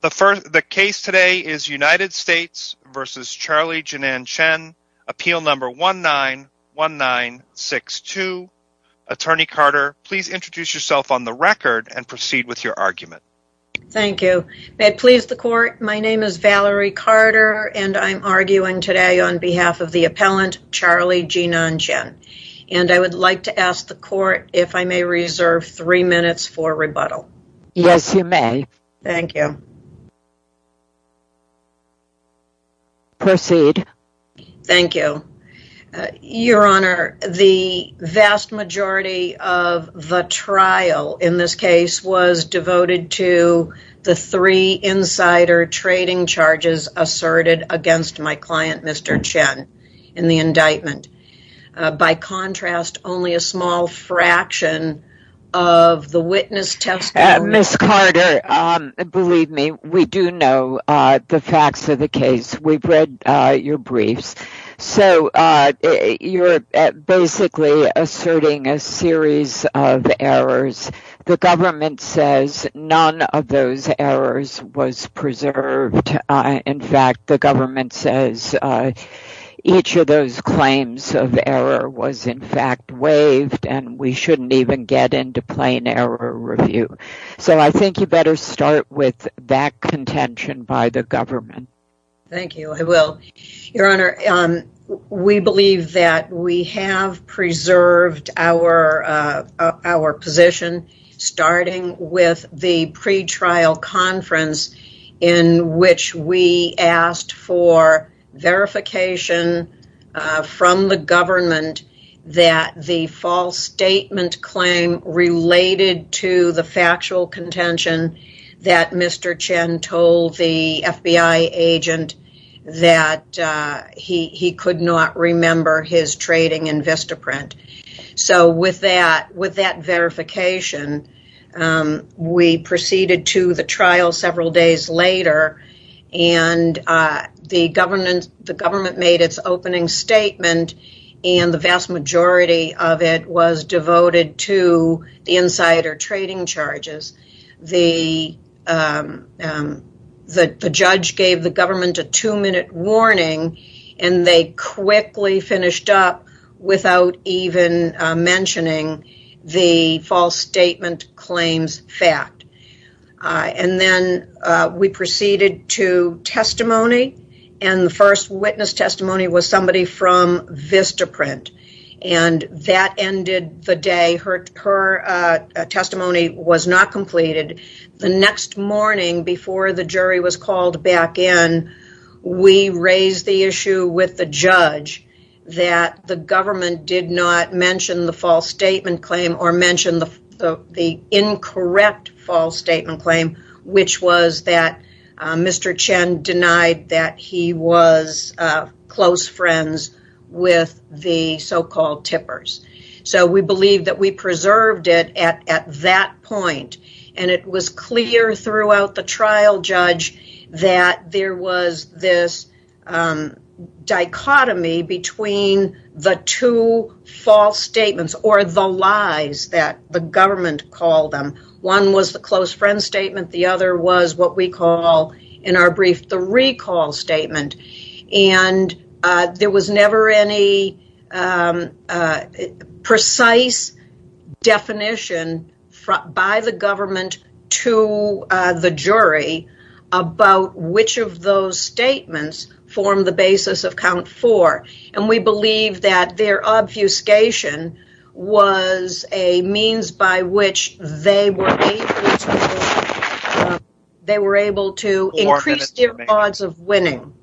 The case today is United States v. Charlie Jinan Chen, Appeal No. 191962. Attorney Carter, please introduce yourself on the record and proceed with your argument. Thank you. May it please the Court, my name is Valerie Carter and I'm arguing today on behalf of the appellant Charlie Jinan Chen. And I would like to ask the Court if I may reserve three minutes for rebuttal. Yes, you may. Thank you. Proceed. Thank you. Your Honor, the vast majority of the trial in this case was devoted to the three insider trading charges asserted against my client, Mr. Chen, in the indictment. By contrast, only a small fraction of the witness testimony... Ms. Carter, believe me, we do know the facts of the case. We've read your briefs. So you're basically asserting a series of errors. The government says none of those errors was preserved. In fact, the government says each of those claims of error was in fact waived and we shouldn't even get into plain error review. So I think you better start with that contention by the government. Thank you, I will. Your Honor, we believe that we have preserved our position starting with the pretrial conference in which we asked for verification from the government that the false statement claim related to the factual contention that Mr. Chen told the FBI agent that he could not remember his trading in Vistaprint. So with that verification, we proceeded to the trial several days later and the government made its opening statement and the vast majority of it was devoted to the insider trading charges. The judge gave the government a two-minute warning and they quickly finished up without even mentioning the false statement claims fact. And then we proceeded to testimony and the first witness testimony was somebody from Vistaprint and that ended the day. Her testimony was not completed. The next morning before the jury was called back in, we raised the issue with the judge that the government did not mention the false statement claim or mention the incorrect false statement claim which was that Mr. Chen denied that he was close friends with the so-called tippers. So we believe that we preserved it at that point and it was clear throughout the trial judge that there was this dichotomy between the two false statements or the lies that the government called them. One was the close friend statement, the other was what we call in our brief the recall statement and there was never any precise definition by the government to the jury about which of those statements formed the basis of count four. And we believe that their obfuscation was a means by which they were able to increase their odds of winning.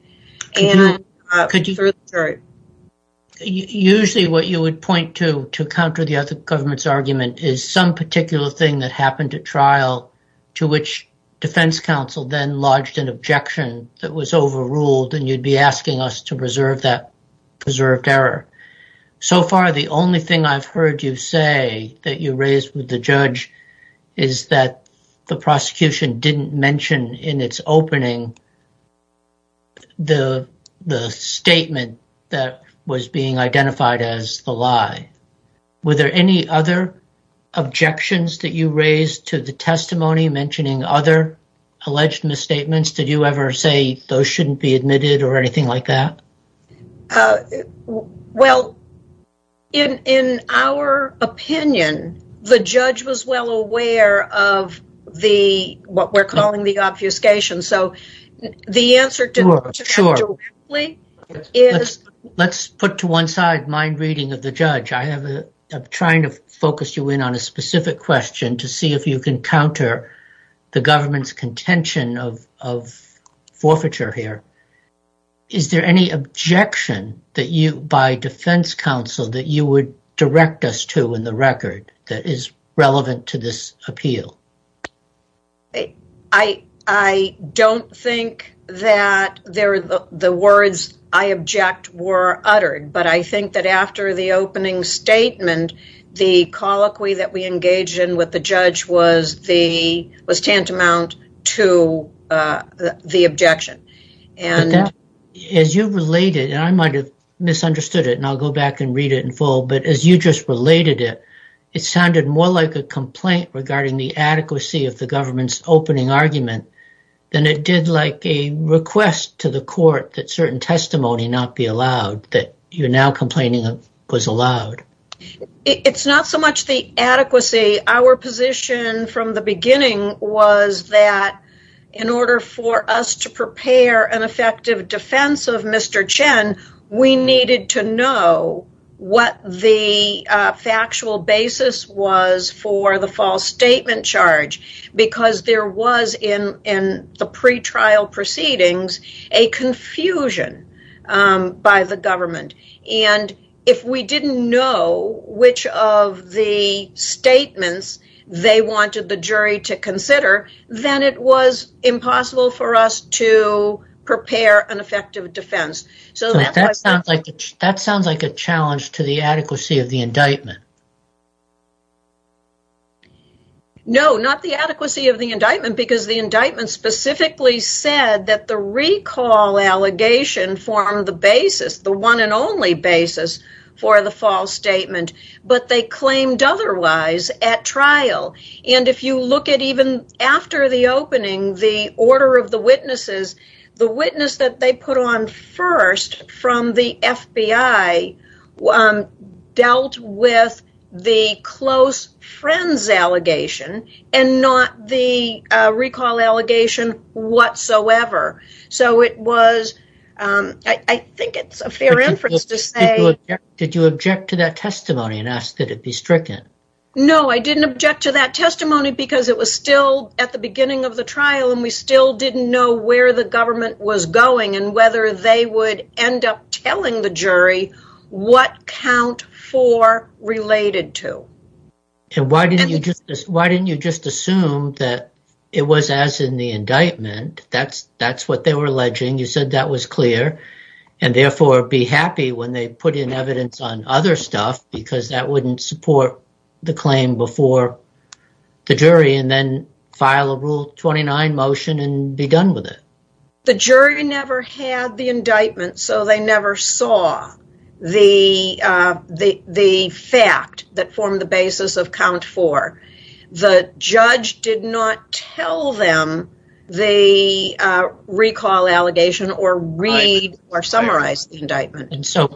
Usually what you would point to to counter the other government's argument is some particular thing that happened at trial to which defense counsel then lodged an objection that was overruled and you'd be asking us to preserve that preserved error. So far the only thing I've heard you say that you raised with the judge is that the prosecution didn't mention in its opening the statement that was being identified as the lie. Were there any other objections that you raised to the testimony mentioning other alleged misstatements? Did you ever say those shouldn't be admitted or anything like that? Well, in our opinion, the judge was well aware of what we're calling the obfuscation. Let's put to one side mind reading of the judge. I'm trying to focus you in on a specific question to see if you can counter the government's contention of forfeiture here. Is there any objection that you by defense counsel that you would direct us to in the record that is relevant to this appeal? I don't think that the words I object were uttered, but I think that after the opening statement, the colloquy that we engaged in with the judge was tantamount to the objection. As you related, and I might have misunderstood it and I'll go back and read it in full, but as you just related it, it sounded more like a complaint regarding the adequacy of the government's opening argument than it did like a request to the court that certain testimony not be allowed that you're now complaining was allowed. It's not so much the adequacy. Our position from the beginning was that in order for us to prepare an effective defense of Mr. Chen, we needed to know what the factual basis was for the false statement charge, because there was in the pretrial proceedings a confusion by the government. If we didn't know which of the statements they wanted the jury to consider, then it was impossible for us to prepare an effective defense. That sounds like a challenge to the adequacy of the indictment. No, not the adequacy of the indictment, because the indictment specifically said that the recall allegation formed the basis, the one and only basis for the false statement, but they claimed otherwise at trial. If you look at even after the opening, the order of the witnesses, the witness that they put on first from the FBI dealt with the close friends allegation and not the recall allegation whatsoever. I think it's a fair inference to say… Did you object to that testimony and ask that it be stricken? No, I didn't object to that testimony because it was still at the beginning of the trial and we still didn't know where the government was going and whether they would end up telling the jury what count four related to. Why didn't you just assume that it was as in the indictment? That's what they were alleging. You said that was clear and therefore be happy when they put in evidence on other stuff because that wouldn't support the claim before the jury and then file a Rule 29 motion and be done with it. The jury never had the indictment, so they never saw the fact that formed the basis of count four. The judge did not tell them the recall allegation or read or summarize the indictment.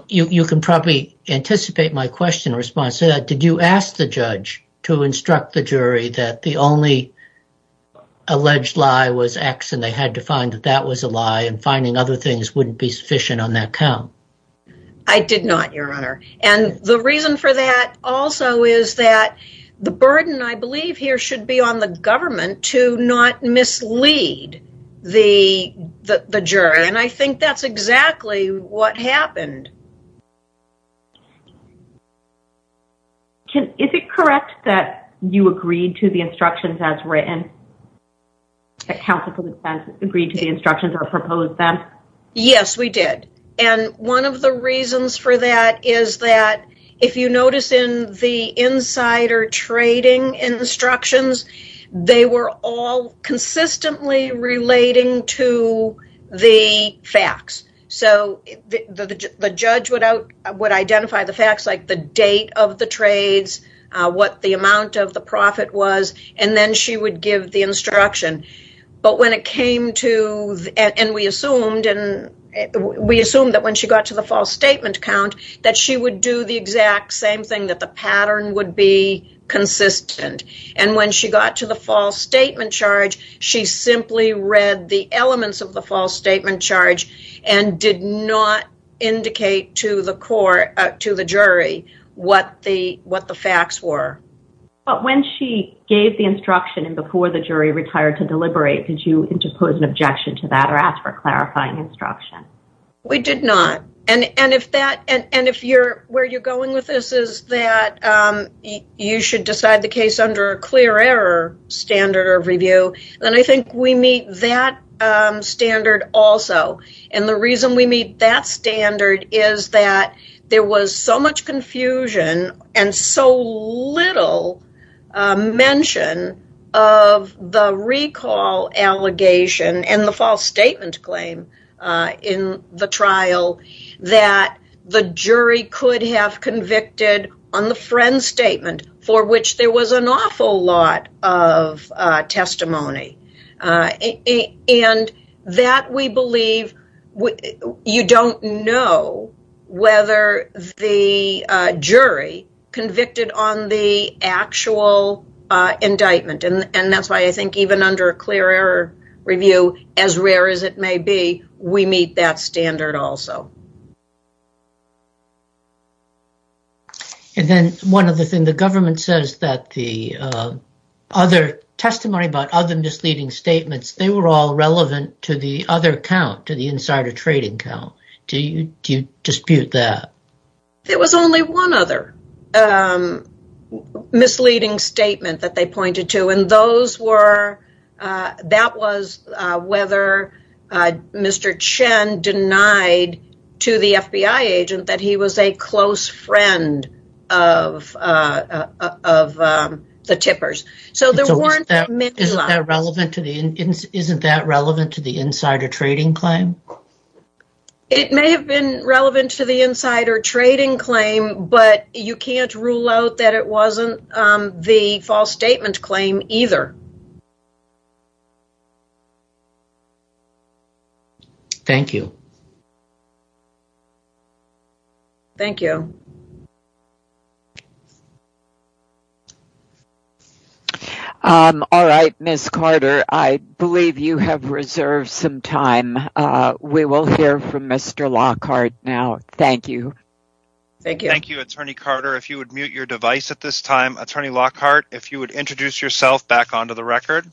You can probably anticipate my question response to that. Did you ask the judge to instruct the jury that the only alleged lie was X and they had to find that that was a lie and finding other things wouldn't be sufficient on that count? I did not, Your Honor, and the reason for that also is that the burden I believe here should be on the government to not mislead the jury and I think that's exactly what happened. Is it correct that you agreed to the instructions as written? Yes, we did. And one of the reasons for that is that if you notice in the insider trading instructions, they were all consistently relating to the facts. So the judge would identify the facts like the date of the trades, what the amount of the profit was, and then she would give the instruction. But when it came to, and we assumed that when she got to the false statement count that she would do the exact same thing, that the pattern would be consistent. And when she got to the false statement charge, she simply read the elements of the false statement charge and did not indicate to the jury what the facts were. But when she gave the instruction and before the jury retired to deliberate, did you interpose an objection to that or ask for clarifying instruction? We did not. And if where you're going with this is that you should decide the case under a clear error standard of review, then I think we meet that standard also. And the reason we meet that standard is that there was so much confusion and so little mention of the recall allegation and the false statement claim in the trial that the jury could have convicted on the friend statement for which there was an awful lot of testimony. And that we believe you don't know whether the jury convicted on the actual indictment. And that's why I think even under a clear error review, as rare as it may be, we meet that standard also. And then one other thing, the government says that the other testimony about other misleading statements, they were all relevant to the other count, to the insider trading count. Do you dispute that? There was only one other misleading statement that they pointed to, and that was whether Mr. Chen denied to the FBI agent that he was a close friend of the tippers. Isn't that relevant to the insider trading claim? It may have been relevant to the insider trading claim, but you can't rule out that it wasn't the false statement claim either. Thank you. Thank you. All right, Ms. Carter, I believe you have reserved some time. We will hear from Mr. Lockhart now. Thank you. Thank you, Attorney Carter. If you would mute your device at this time. Attorney Lockhart, if you would introduce yourself back onto the record.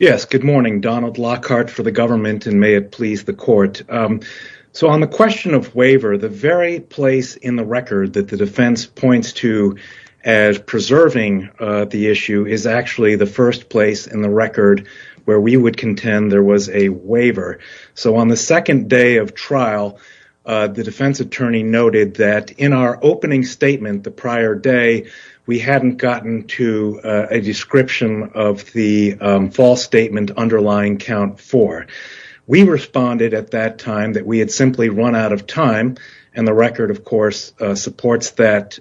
Yes, good morning. Donald Lockhart for the government, and may it please the court. So on the question of waiver, the very place in the record that the defense points to as preserving the issue is actually the first place in the record where we would contend there was a waiver. So on the second day of trial, the defense attorney noted that in our opening statement the prior day, we hadn't gotten to a description of the false statement underlying count four. We responded at that time that we had simply run out of time, and the record of course supports that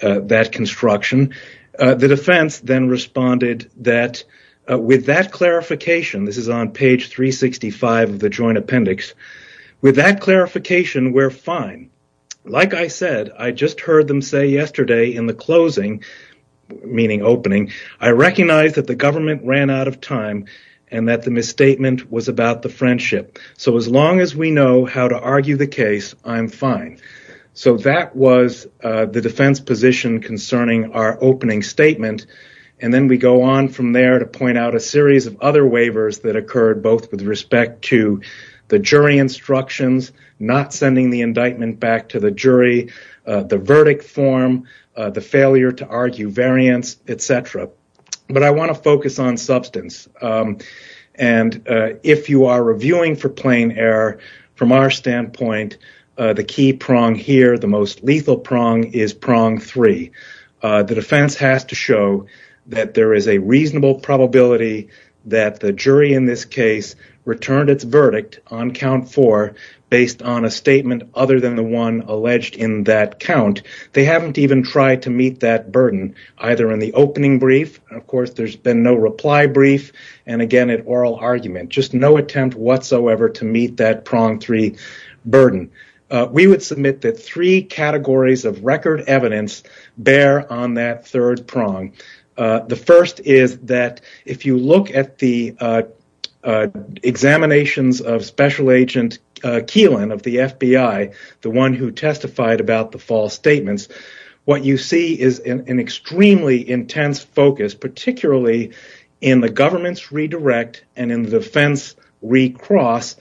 construction. The defense then responded that with that clarification, this is on page 365 of the joint appendix, with that clarification, we're fine. Like I said, I just heard them say yesterday in the closing, meaning opening, I recognize that the government ran out of time and that the misstatement was about the friendship. So as long as we know how to argue the case, I'm fine. So that was the defense position concerning our opening statement, and then we go on from there to point out a series of other waivers that occurred both with respect to the jury instructions, not sending the indictment back to the jury, the verdict form, the failure to argue variance, etc. But I want to focus on substance, and if you are reviewing for plain error, from our standpoint, the key prong here, the most lethal prong, is prong three. The defense has to show that there is a reasonable probability that the jury in this case returned its verdict on count four based on a statement other than the one alleged in that count. They haven't even tried to meet that burden, either in the opening brief, of course there's been no reply brief, and again at oral argument, just no attempt whatsoever to meet that prong three burden. We would submit that three categories of record evidence bear on that third prong. The first is that if you look at the examinations of Special Agent Keelan of the FBI, the one who testified about the false statements, what you see is an extremely intense focus, particularly in the government's redirect and in the defense recross,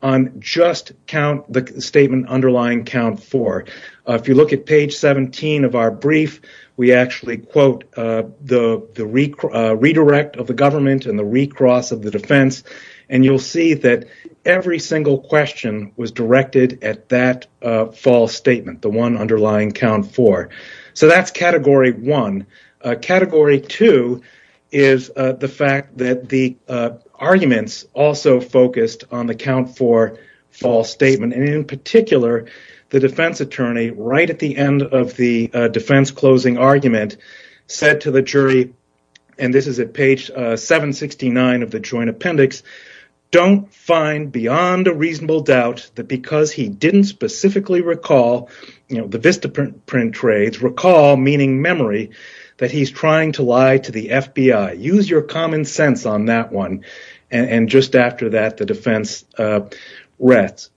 on just the statement underlying count four. If you look at page 17 of our brief, we actually quote the redirect of the government and the recross of the defense, and you'll see that every single question was directed at that false statement, the one underlying count four. That's category one. Category two is the fact that the arguments also focused on the count four false statement, and in particular, the defense attorney right at the end of the defense closing argument said to the jury, and this is at page 769 of the joint appendix, don't find beyond a reasonable doubt that because he didn't specifically recall the Vista print trades, recall meaning memory, that he's trying to lie to the FBI. Use your common sense on that one, and just after that, the defense rests.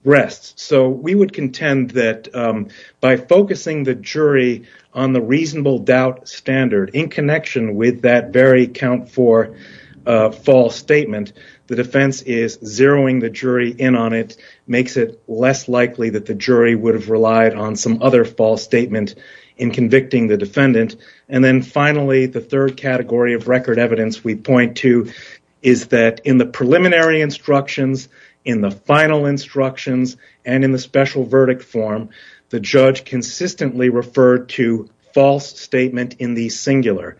We would contend that by focusing the jury on the reasonable doubt standard in connection with that very count four false statement, the defense is zeroing the jury in on it, makes it less likely that the jury would have relied on some other false statement in convicting the defendant. Finally, the third category of record evidence we point to is that in the preliminary instructions, in the final instructions, and in the special verdict form, the judge consistently referred to false statement in the singular.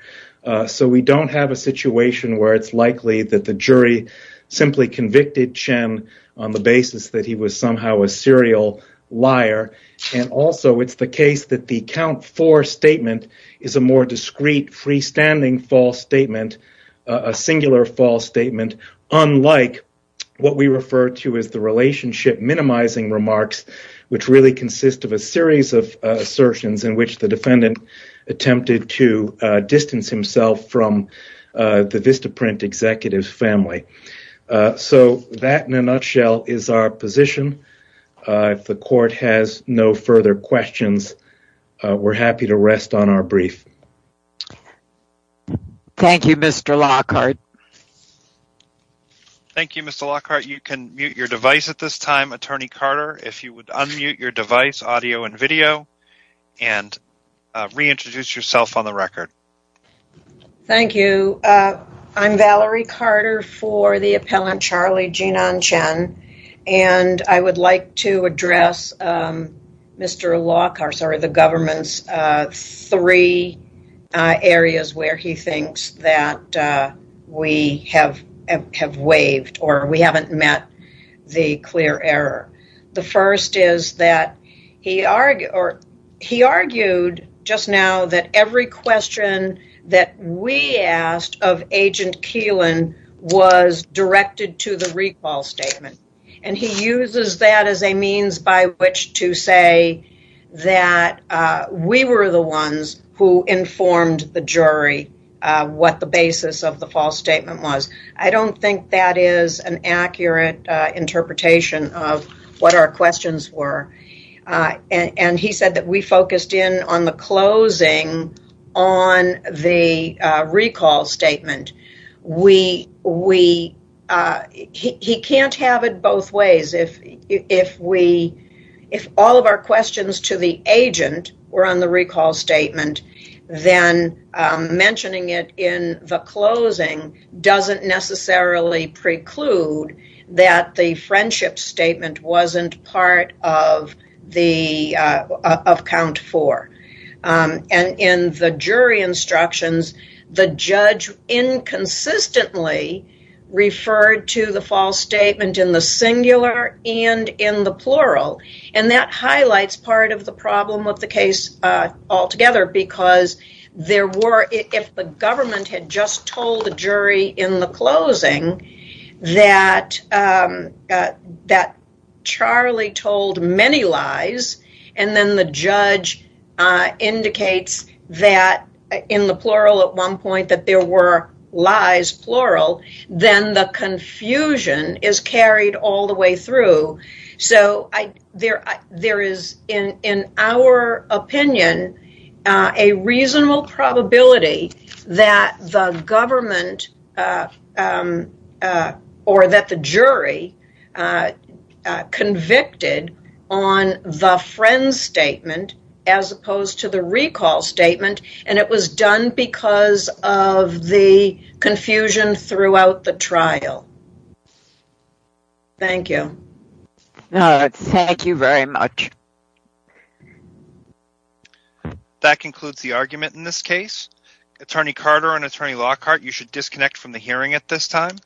We don't have a situation where it's likely that the jury simply convicted Chen on the basis that he was somehow a serial liar, and also it's the case that the count four statement is a more discreet freestanding false statement, a singular false statement, unlike what we refer to as the relationship minimizing remarks, which really consist of a series of assertions in which the defendant attempted to distance himself from the Vista print executive's family. That, in a nutshell, is our position. If the court has no further questions, we're happy to rest on our brief. Thank you, Mr. Lockhart. Thank you, Mr. Lockhart. You can mute your device at this time. Attorney Carter, if you would unmute your device, audio and video and reintroduce yourself on the record. Thank you. I'm Valerie Carter for the appellant Charlie Jinan Chen, and I would like to address Mr. Lockhart, sorry, the government's three areas where he thinks that we have waived or we haven't met the clear error. The first is that he argued just now that every question that we asked of Agent Keelan was directed to the recall statement, and he uses that as a means by which to say that we were the ones who informed the jury what the basis of the false statement was. I don't think that is an accurate interpretation of what our questions were, and he said that we focused in on the closing on the recall statement. He can't have it both ways. If all of our questions to the agent were on the recall statement, then mentioning it in the closing doesn't necessarily preclude that the friendship statement wasn't part of count four. In the jury instructions, the judge inconsistently referred to the false statement in the singular and in the plural, and that highlights part of the problem of the case altogether because if the government had just told the jury in the closing that Charlie told many lies, and then the judge indicates that in the plural at one point that there were lies, plural, then the confusion is carried all the way through. There is, in our opinion, a reasonable probability that the government or that the jury convicted on the friend statement as opposed to the recall statement, and it was done because of the confusion throughout the trial. Thank you. Thank you very much. That concludes the argument in this case. Attorney Carter and Attorney Lockhart, you should disconnect from the hearing at this time.